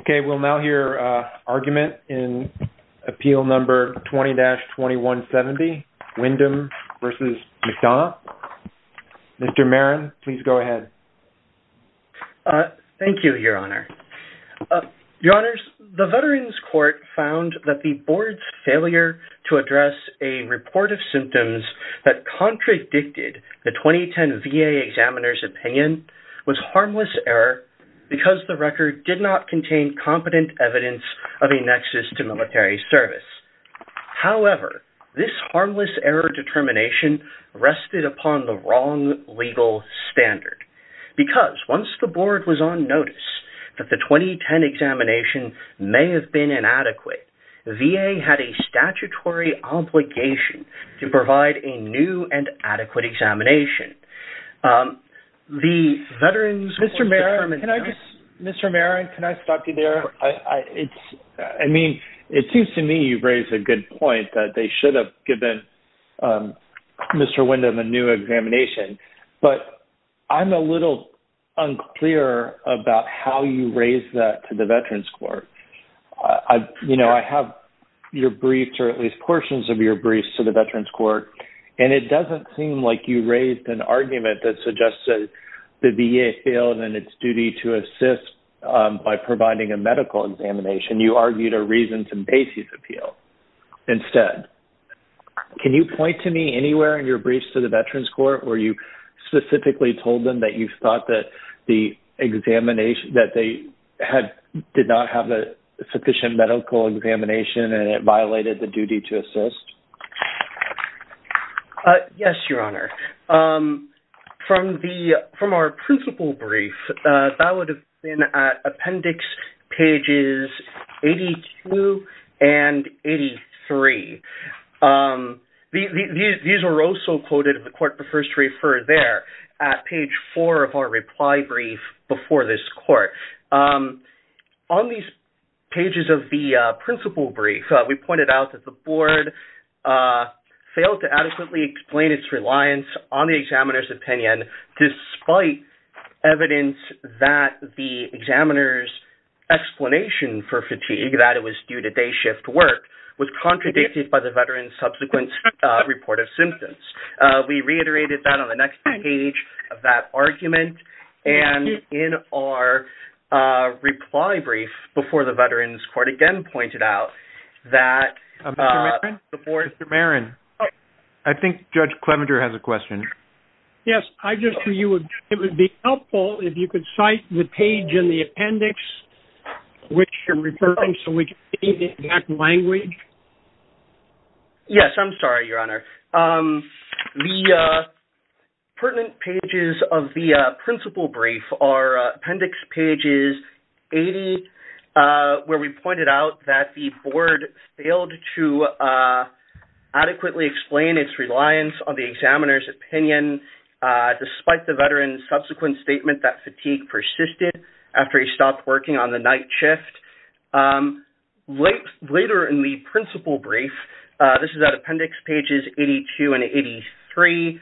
Okay, we'll now hear argument in Appeal Number 20-2170, Wyndham v. McDonough. Mr. Maron, please go ahead. Thank you, Your Honor. Your Honors, the Veterans Court found that the Board's failure to address a report of symptoms that contradicted the 2010 VA examiner's opinion was harmless error because the record did not contain competent evidence of a nexus to military service. However, this harmless error determination rested upon the wrong legal standard. Because once the Board was on notice that the 2010 examination may have been inadequate, VA had a statutory obligation to provide a new and adequate examination. Mr. Maron, can I stop you there? I mean, it seems to me you've raised a good point that they should have given Mr. Wyndham a new examination, but I'm a little unclear about how you raise that to the Veterans Court. You know, I have your briefs or at least portions of your briefs to the Veterans Court, and it doesn't seem like you raised an argument that suggested the VA failed in its duty to assist by providing a medical examination. You argued a reasons and basis appeal instead. Can you point to me anywhere in your briefs to the Veterans Court where you specifically told them that you thought that they did not have a sufficient medical examination and it violated the duty to assist? Yes, Your Honor. From our principal brief, that would have been at appendix pages 82 and 83. These were also quoted, if the Court prefers to refer there, at page 4 of our reply brief before this Court. On these pages of the principal brief, we pointed out that the Board failed to adequately explain its reliance on the examiner's opinion despite evidence that the examiner's explanation for fatigue, that it was due to day shift work, was contradicted by the veteran's subsequent report of symptoms. We reiterated that on the next page of that argument, and in our reply brief before the Veterans Court again pointed out that the Board... Mr. Marin, I think Judge Clevenger has a question. Yes, I just knew it would be helpful if you could cite the page in the appendix which you're referring to, which is in that language. Yes, I'm sorry, Your Honor. The pertinent pages of the principal brief are appendix pages 80 where we pointed out that the Board failed to adequately explain its reliance on the examiner's opinion despite the veteran's subsequent statement that fatigue persisted after he stopped working on the night shift. Later in the principal brief, this is at appendix pages 82 and 83,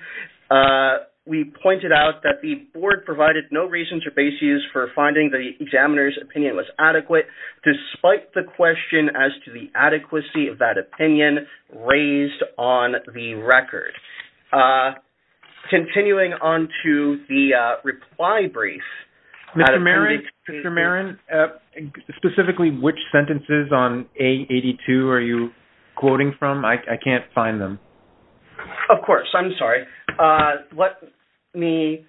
we pointed out that the Board provided no reasons or basis for finding the examiner's opinion was adequate despite the question as to the adequacy of that opinion raised on the record. Continuing on to the reply brief... Mr. Marin, specifically which sentences on page 82 are you quoting from? I can't find them. Of course, I'm sorry. Let me,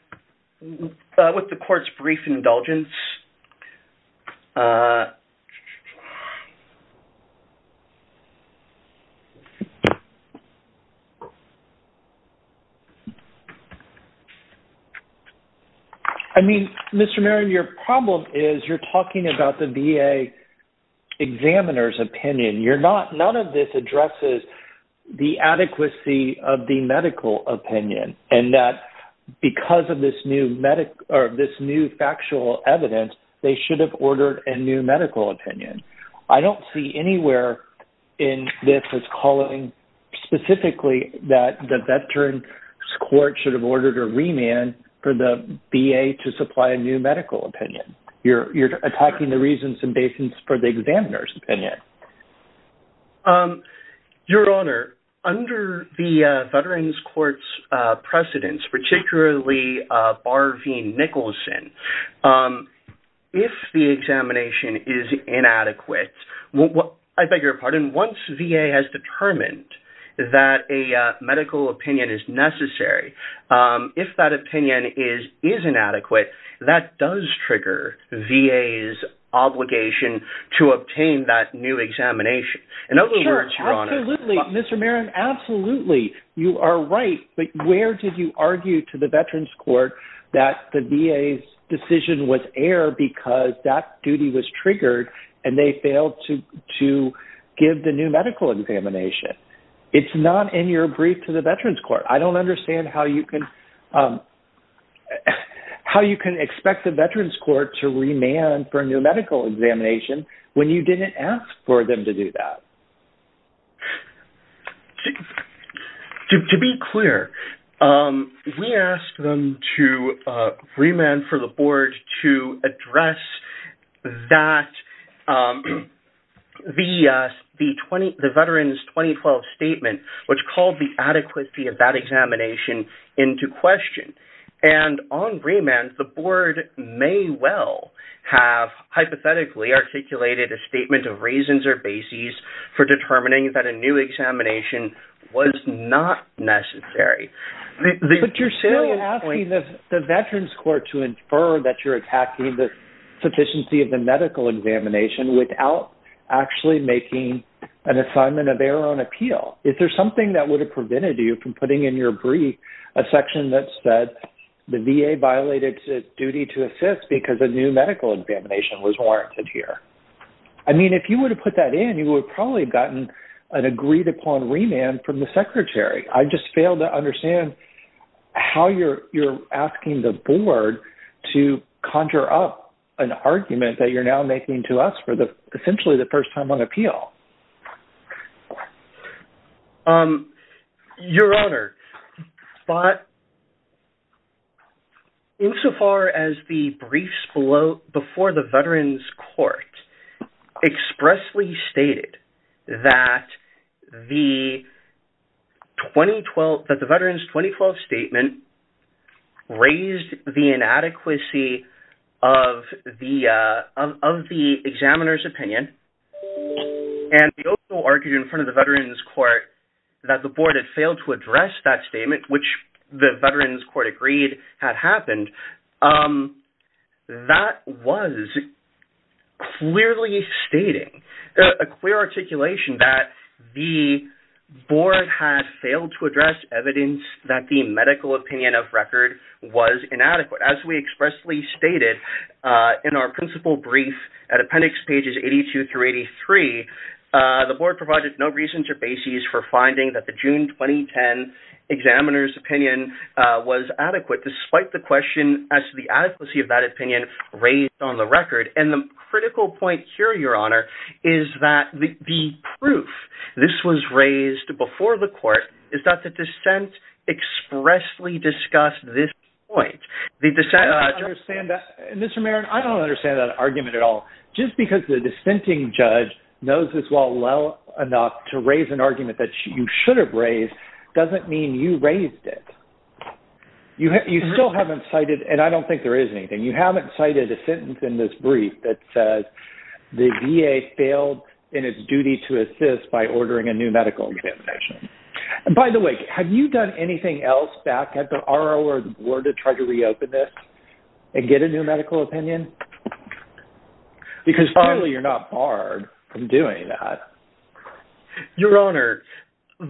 with the Court's brief indulgence... I mean, Mr. Marin, your problem is you're talking about the VA examiner's opinion. None of this addresses the adequacy of the medical opinion and that because of this new factual evidence, they should have ordered a new medical opinion. I don't see anywhere in this as calling specifically that the veteran's court should have ordered a remand for the VA to supply a new medical opinion. You're attacking the reasons and basis for the examiner's opinion. Your Honor, under the veteran's court's precedence, particularly Barveen Nicholson, if the examination is inadequate, I beg your pardon, once VA has determined that a medical opinion is necessary, if that opinion is inadequate, that does trigger VA's obligation to obtain that new examination. In other words, Your Honor... Sure, absolutely. Mr. Marin, absolutely. You are right, but where did you argue to the veteran's court that the VA's decision was error because that duty was triggered and they failed to give the new medical examination? It's not in your brief to the veteran's court. I don't understand how you can expect the veteran's court to remand for a new medical examination when you didn't ask for them to do that. To be clear, we asked them to remand for the board to address the veteran's 2012 statement, which called the adequacy of that examination into question. And on remand, the board may well have hypothetically articulated a statement of reasons or basis for determining that a new examination was not necessary. But you're still asking the veteran's court to infer that you're attacking the sufficiency of the medical examination without actually making an assignment of their own appeal. Is there something that would have prevented you from putting in your brief a section that said the VA violated its duty to assist because a new medical examination was warranted here? I mean, if you were to put that in, you would probably have gotten an agreed upon remand from the secretary. I just fail to understand how you're asking the board to conjure up an argument that you're now making to us for essentially the first time on appeal. Your Honor, but insofar as the briefs before the veteran's court expressly stated that the veteran's 2012 statement raised the inadequacy of the examiner's opinion. And they also argued in front of the veteran's court that the board had failed to address that statement, which the veteran's court agreed had happened. That was clearly stating, a clear articulation that the board had failed to address evidence that the medical opinion of record was inadequate. As we expressly stated in our principal brief at appendix pages 82 through 83, the board provided no reasons or basis for finding that the June 2010 examiner's opinion was adequate, despite the question as to the adequacy of that opinion raised on the record. And the critical point here, Your Honor, is that the proof this was raised before the court is that the dissent expressly discussed this point. Mr. Merritt, I don't understand that argument at all. Just because the dissenting judge knows this well enough to raise an argument that you should have raised doesn't mean you raised it. You still haven't cited, and I don't think there is anything, you haven't cited a sentence in this brief that says the VA failed in its duty to assist by ordering a new medical examination. By the way, have you done anything else back at the RO or the board to try to reopen this and get a new medical opinion? Because clearly you're not barred from doing that. Your Honor, with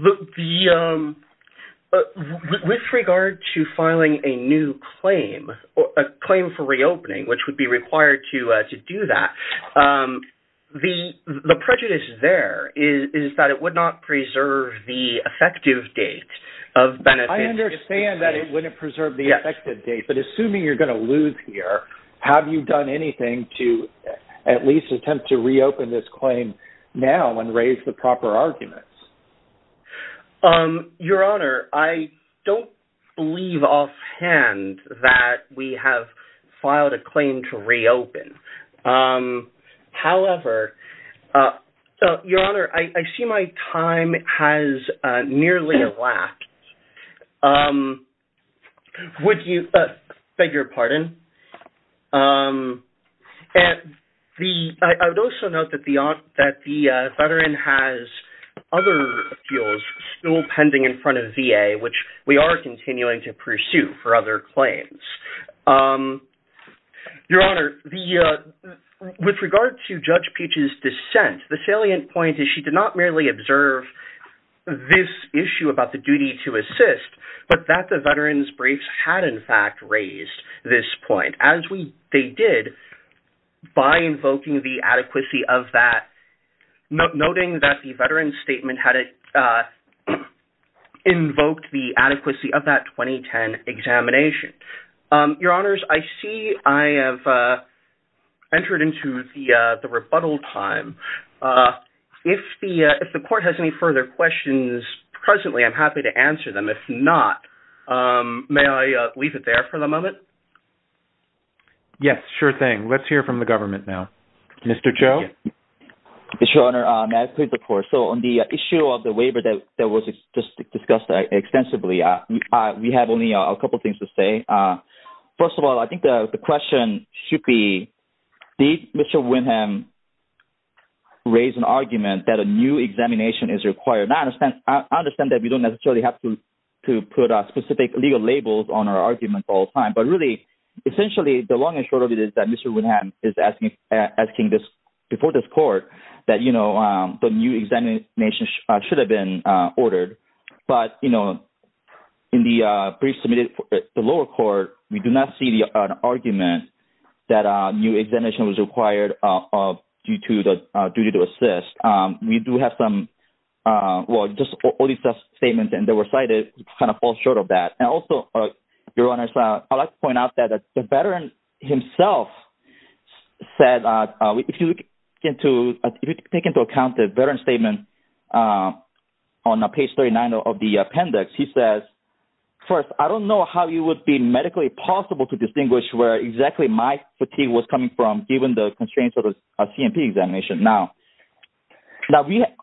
regard to filing a new claim, a claim for reopening, which would be required to do that, the prejudice there is that it would not preserve the effective date of benefit. I understand that it wouldn't preserve the effective date, but assuming you're going to lose here, have you done anything to at least attempt to reopen this claim now and raise the proper arguments? Your Honor, I don't believe offhand that we have filed a claim to reopen. However, Your Honor, I see my time has nearly elapsed. I beg your pardon. I would also note that the veteran has other appeals still pending in front of VA, which we are continuing to pursue for other claims. Your Honor, with regard to Judge Peach's dissent, the salient point is she did not merely observe this issue about the duty to assist, but that the veteran's briefs had in fact raised this point, as they did by invoking the adequacy of that, noting that the veteran's statement had invoked the adequacy of that 2010 examination. Your Honors, I see I have entered into the rebuttal time. If the Court has any further questions presently, I'm happy to answer them. If not, may I leave it there for the moment? Yes, sure thing. Let's hear from the government now. Mr. Cho? Your Honor, may I please report? On the issue of the waiver that was just discussed extensively, we have only a couple of things to say. First of all, I think the question should be, did Mr. Winham raise an argument that a new examination is required? I understand that we don't necessarily have to put specific legal labels on our arguments all the time, but really, essentially, the long and short of it is that Mr. Winham is asking before this Court that the new examination should have been ordered. But in the brief submitted to the lower court, we do not see an argument that a new examination was required due to the duty to assist. We do have some – well, just all these statements that were cited kind of fall short of that. And also, Your Honors, I'd like to point out that the veteran himself said – if you take into account the veteran's statement on page 39 of the appendix, he says, First, I don't know how it would be medically possible to distinguish where exactly my fatigue was coming from, given the constraints of the C&P examination. Now,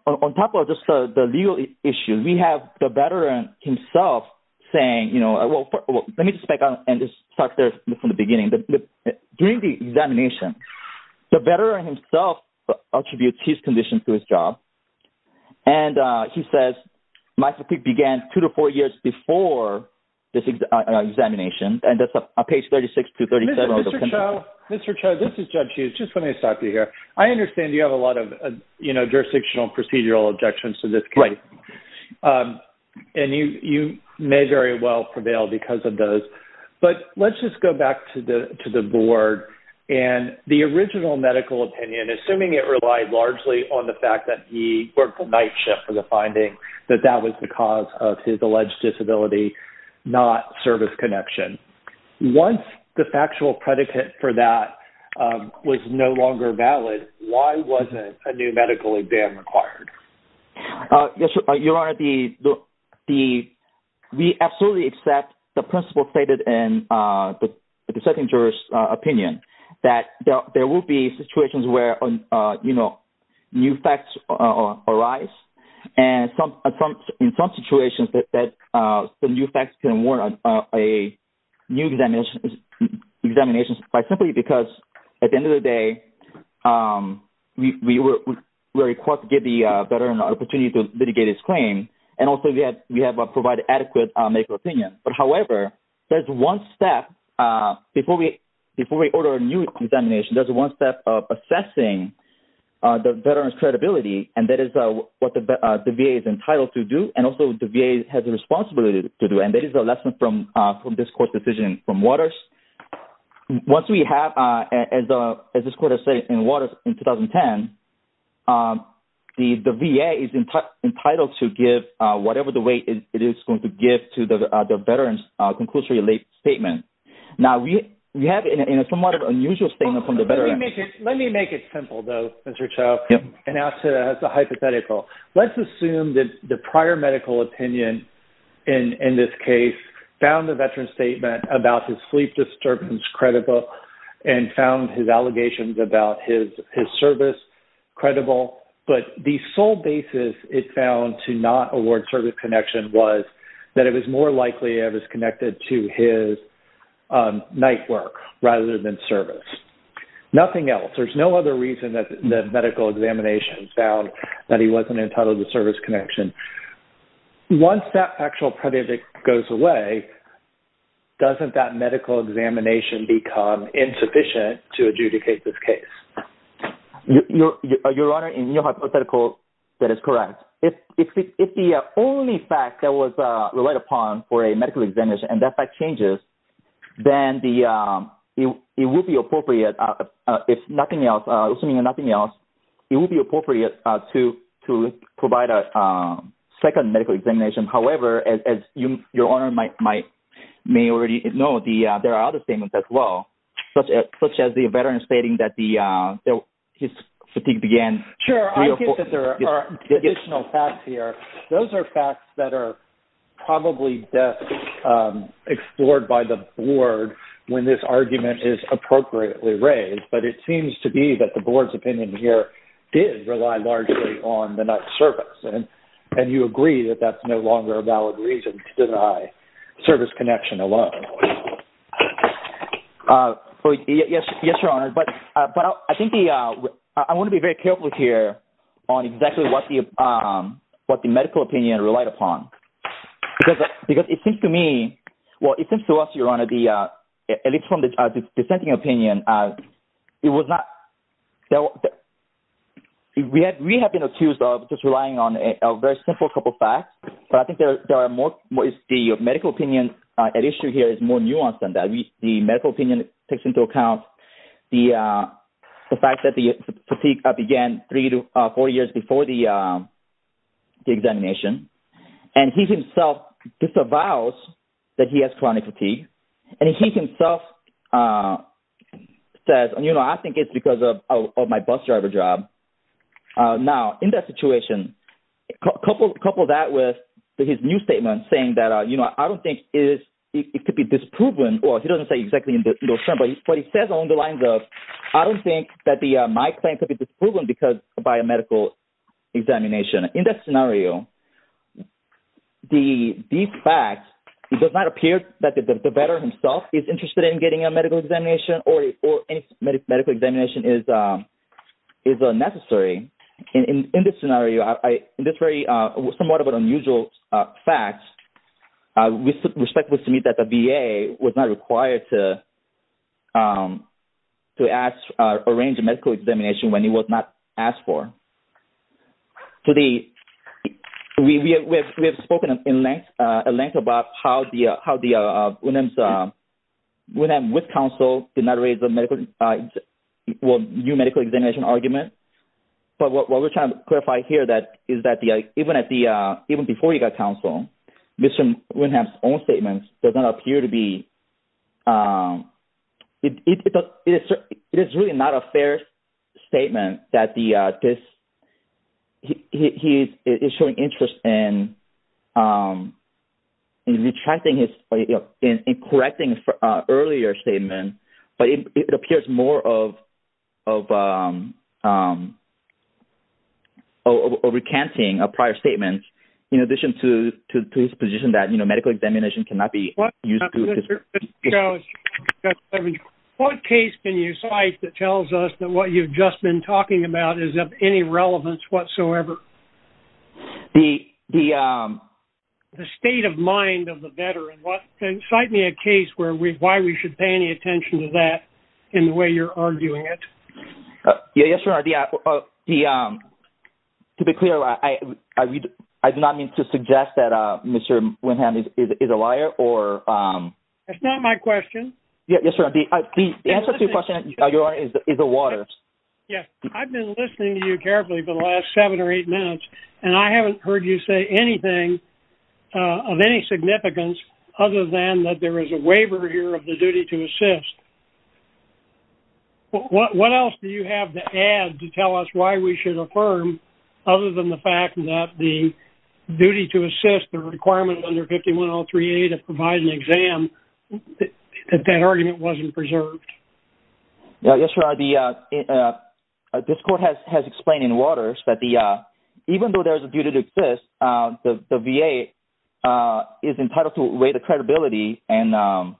on top of just the legal issue, we have the veteran himself saying – well, let me just back up and just start there from the beginning. During the examination, the veteran himself attributes his condition to his job, and he says my fatigue began two to four years before this examination, and that's on page 36 to 37 of the appendix. Mr. Cho, this is Judge Hughes. Just let me stop you here. I understand you have a lot of jurisdictional and procedural objections to this case. Right. And you may very well prevail because of those. But let's just go back to the board. And the original medical opinion, assuming it relied largely on the fact that he worked the night shift for the finding, that that was the cause of his alleged disability, not service connection. Once the factual predicate for that was no longer valid, why wasn't a new medical exam required? Your Honor, we absolutely accept the principle stated in the second juror's opinion that there will be situations where new facts arise. And in some situations, the new facts can warrant a new examination simply because, at the end of the day, we were required to give the veteran an opportunity to litigate his claim, and also we have provided adequate medical opinion. But, however, there's one step before we order a new examination. There's one step of assessing the veteran's credibility, and that is what the VA is entitled to do and also the VA has a responsibility to do. And that is a lesson from this court's decision from Waters. Once we have, as this court has said in Waters in 2010, the VA is entitled to give whatever the weight it is going to give to the veteran's conclusion-related statement. Now, we have a somewhat unusual statement from the veteran. Let me make it simple, though, Mr. Cho, and ask it as a hypothetical. Let's assume that the prior medical opinion in this case found the veteran's statement about his sleep disturbance credible and found his allegations about his service credible, but the sole basis it found to not award service connection was that it was more likely it was connected to his night work rather than service. Nothing else. There's no other reason that the medical examination found that he wasn't entitled to service connection. Once that actual predicate goes away, doesn't that medical examination become insufficient to adjudicate this case? Your Honor, in your hypothetical, that is correct. If the only fact that was relied upon for a medical examination and that fact changes, then it would be appropriate, assuming nothing else, it would be appropriate to provide a second medical examination. However, as Your Honor may already know, there are other statements as well, such as the veteran stating that his fatigue began… …to deny service connection alone. Yes, Your Honor, but I think I want to be very careful here on exactly what the medical opinion relied upon, because it seems to me, well, it seems to us, Your Honor, at least from the dissenting opinion, it was not… We have been accused of just relying on a very simple couple of facts, but I think the medical opinion at issue here is more nuanced than that. The medical opinion takes into account the fact that the fatigue began three to four years before the examination, and he himself disavows that he has chronic fatigue. And he himself says, you know, I think it's because of my bus driver job. Now, in that situation, couple that with his new statement saying that, you know, I don't think it could be disproven. Well, he doesn't say exactly in those terms, but he says along the lines of, I don't think that my claim could be disproven by a medical examination. In that scenario, these facts, it does not appear that the veteran himself is interested in getting a medical examination or any medical examination is necessary. In this scenario, in this very somewhat of an unusual fact, we suspect that the VA was not required to arrange a medical examination when it was not asked for. So, we have spoken in length about how the—Wynnham's—Wynnham, with counsel, did not raise a medical—well, new medical examination argument. But what we're trying to clarify here is that even before he got counsel, Mr. Wynnham's own statement does not appear to be—it is really not a fair statement that this—he is showing interest in retracting his—in correcting an earlier statement, but it appears more of recanting a prior statement in addition to his position that, you know, medical examination cannot be used to— What case can you cite that tells us that what you've just been talking about is of any relevance whatsoever? The— The state of mind of the veteran, what—cite me a case where we—why we should pay any attention to that in the way you're arguing it. Yes, Your Honor, the—to be clear, I do not mean to suggest that Mr. Wynnham is a liar or— That's not my question. Yes, Your Honor, the answer to your question, Your Honor, is a water. Yes, I've been listening to you carefully for the last seven or eight minutes, and I haven't heard you say anything of any significance other than that there is a waiver here of the duty to assist. What else do you have to add to tell us why we should affirm, other than the fact that the duty to assist, the requirement under 5103A to provide an exam, that that argument wasn't preserved? Yes, Your Honor, the—this court has explained in waters that the—even though there is a duty to assist, the VA is entitled to weigh the credibility and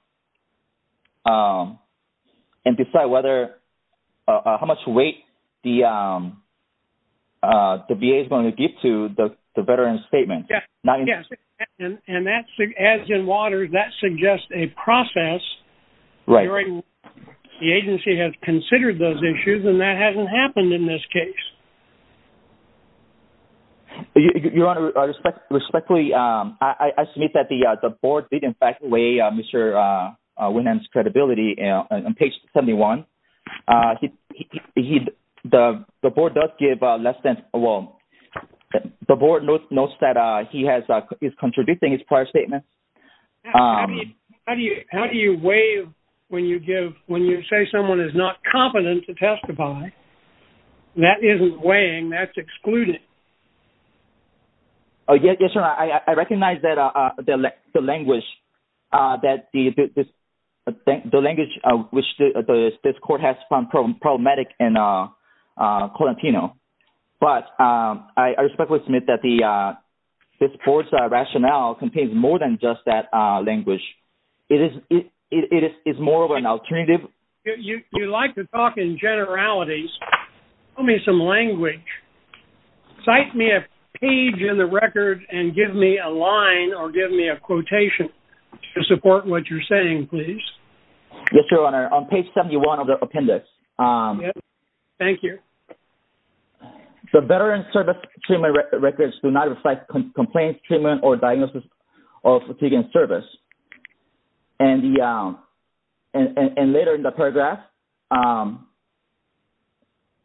decide whether—how much weight the VA is going to give to the veteran's statement. Yes, and that's—as in waters, that suggests a process during which the agency has considered those issues, and that hasn't happened in this case. Your Honor, respectfully, I submit that the board did, in fact, weigh Mr. Wynnham's credibility on page 71. He—the board does give less than—well, the board notes that he has—is contradicting his prior statement. How do you weigh when you give—when you say someone is not competent to testify? That isn't weighing. That's excluding. Yes, Your Honor, I recognize that the language—the language which this court has found problematic in Colantino, but I respectfully submit that this board's rationale contains more than just that language. It is more of an alternative— You like to talk in generalities. Tell me some language. Cite me a page in the record and give me a line or give me a quotation to support what you're saying, please. Yes, Your Honor, on page 71 of the appendix. Thank you. The veteran service treatment records do not reflect complaint treatment or diagnosis of fatigue in service. And the—and later in the paragraph,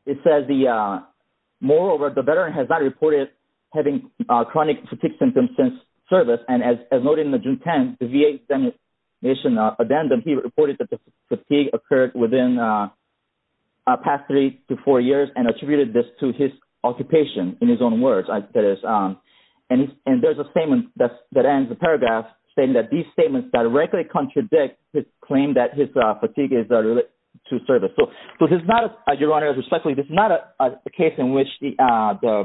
it says the—moreover, the veteran has not reported having chronic fatigue symptoms since service. And as noted in the June 10th VA examination addendum, he reported that the fatigue occurred within the past three to four years and attributed this to his occupation, in his own words. And there's a statement that ends the paragraph saying that these statements directly contradict his claim that his fatigue is related to service. So this is not—Your Honor, respectfully, this is not a case in which the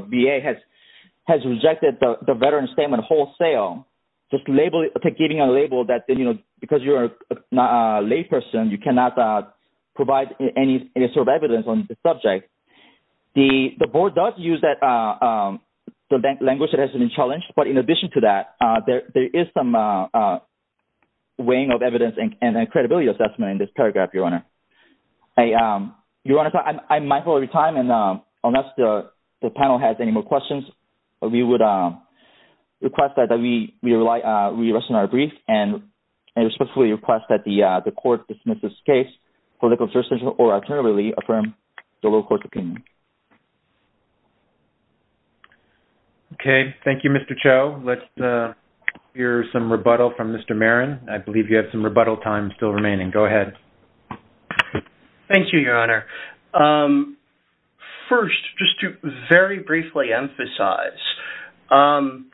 VA has rejected the veteran's statement wholesale, just labeling—giving a label that, you know, because you're a layperson, you cannot provide any sort of evidence on the subject. The board does use that—the language that has been challenged, but in addition to that, there is some weighing of evidence and credibility assessment in this paragraph, Your Honor. Your Honor, I'm mindful of your time, and unless the panel has any more questions, we would request that we rest on our brief, and I respectfully request that the court dismiss this case for the conservative or alternatively affirm the lower court's opinion. Okay. Thank you, Mr. Cho. Let's hear some rebuttal from Mr. Marin. I believe you have some rebuttal time still remaining. Go ahead. Thank you, Your Honor. First, just to very briefly emphasize, the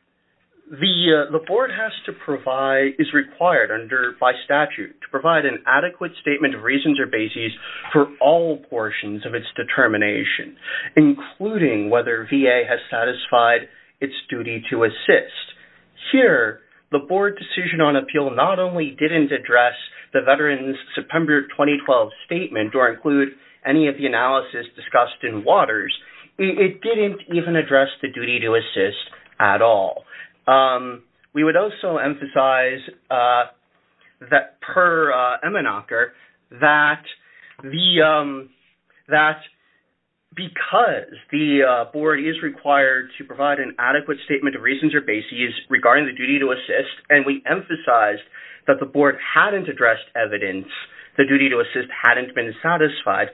board has to provide—is required under—by statute to provide an adequate statement of reasons or basis for all portions of its determination, including whether VA has satisfied its duty to assist. Here, the board decision on appeal not only didn't address the veteran's September 2012 statement or include any of the analysis discussed in Waters, it didn't even address the duty to assist at all. We would also emphasize that per Emmenacher, that because the board is required to provide an adequate statement of reasons or basis regarding the duty to assist, and we emphasized that the board hadn't addressed evidence, the duty to assist hadn't been satisfied,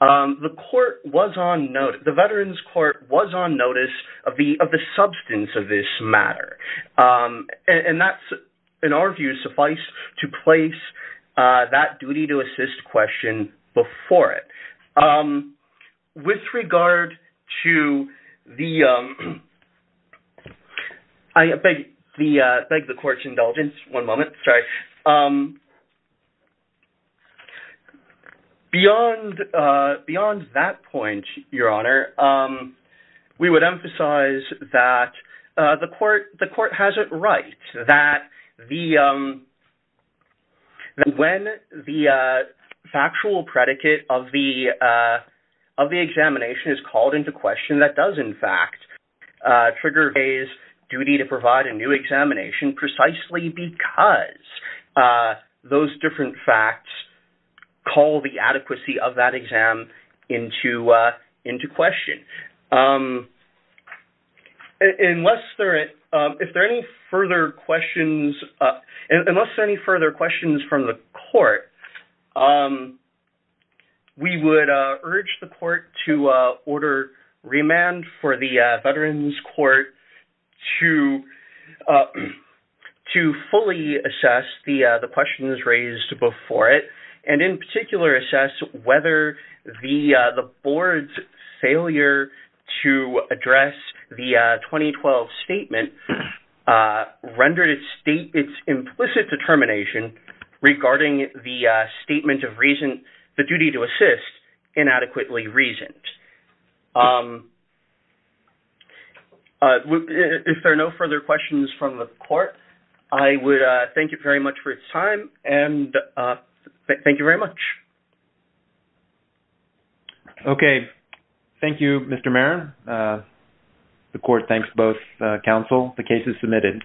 the court was on—the veterans court was on notice of the substance of this matter, and that's, in our view, suffice to place that duty to assist question before it. With regard to the—I beg the court's indulgence, one moment, sorry. Beyond that point, Your Honor, we would emphasize that the court has it right, that when the factual predicate of the examination is called into question, that does, in fact, trigger VA's duty to provide a new examination precisely because those different facts call the adequacy of that exam into question. Okay. Unless there are any further questions from the court, we would urge the court to order remand for the veterans court to fully assess the questions raised before it, and in particular, assess whether the board's failure to address the 2012 statement rendered its implicit determination regarding the statement of reason—the duty to assist—inadequately reasoned. If there are no further questions from the court, I would thank you very much for your time, and thank you very much. Okay. Thank you, Mr. Maron. The court thanks both counsel. The case is submitted.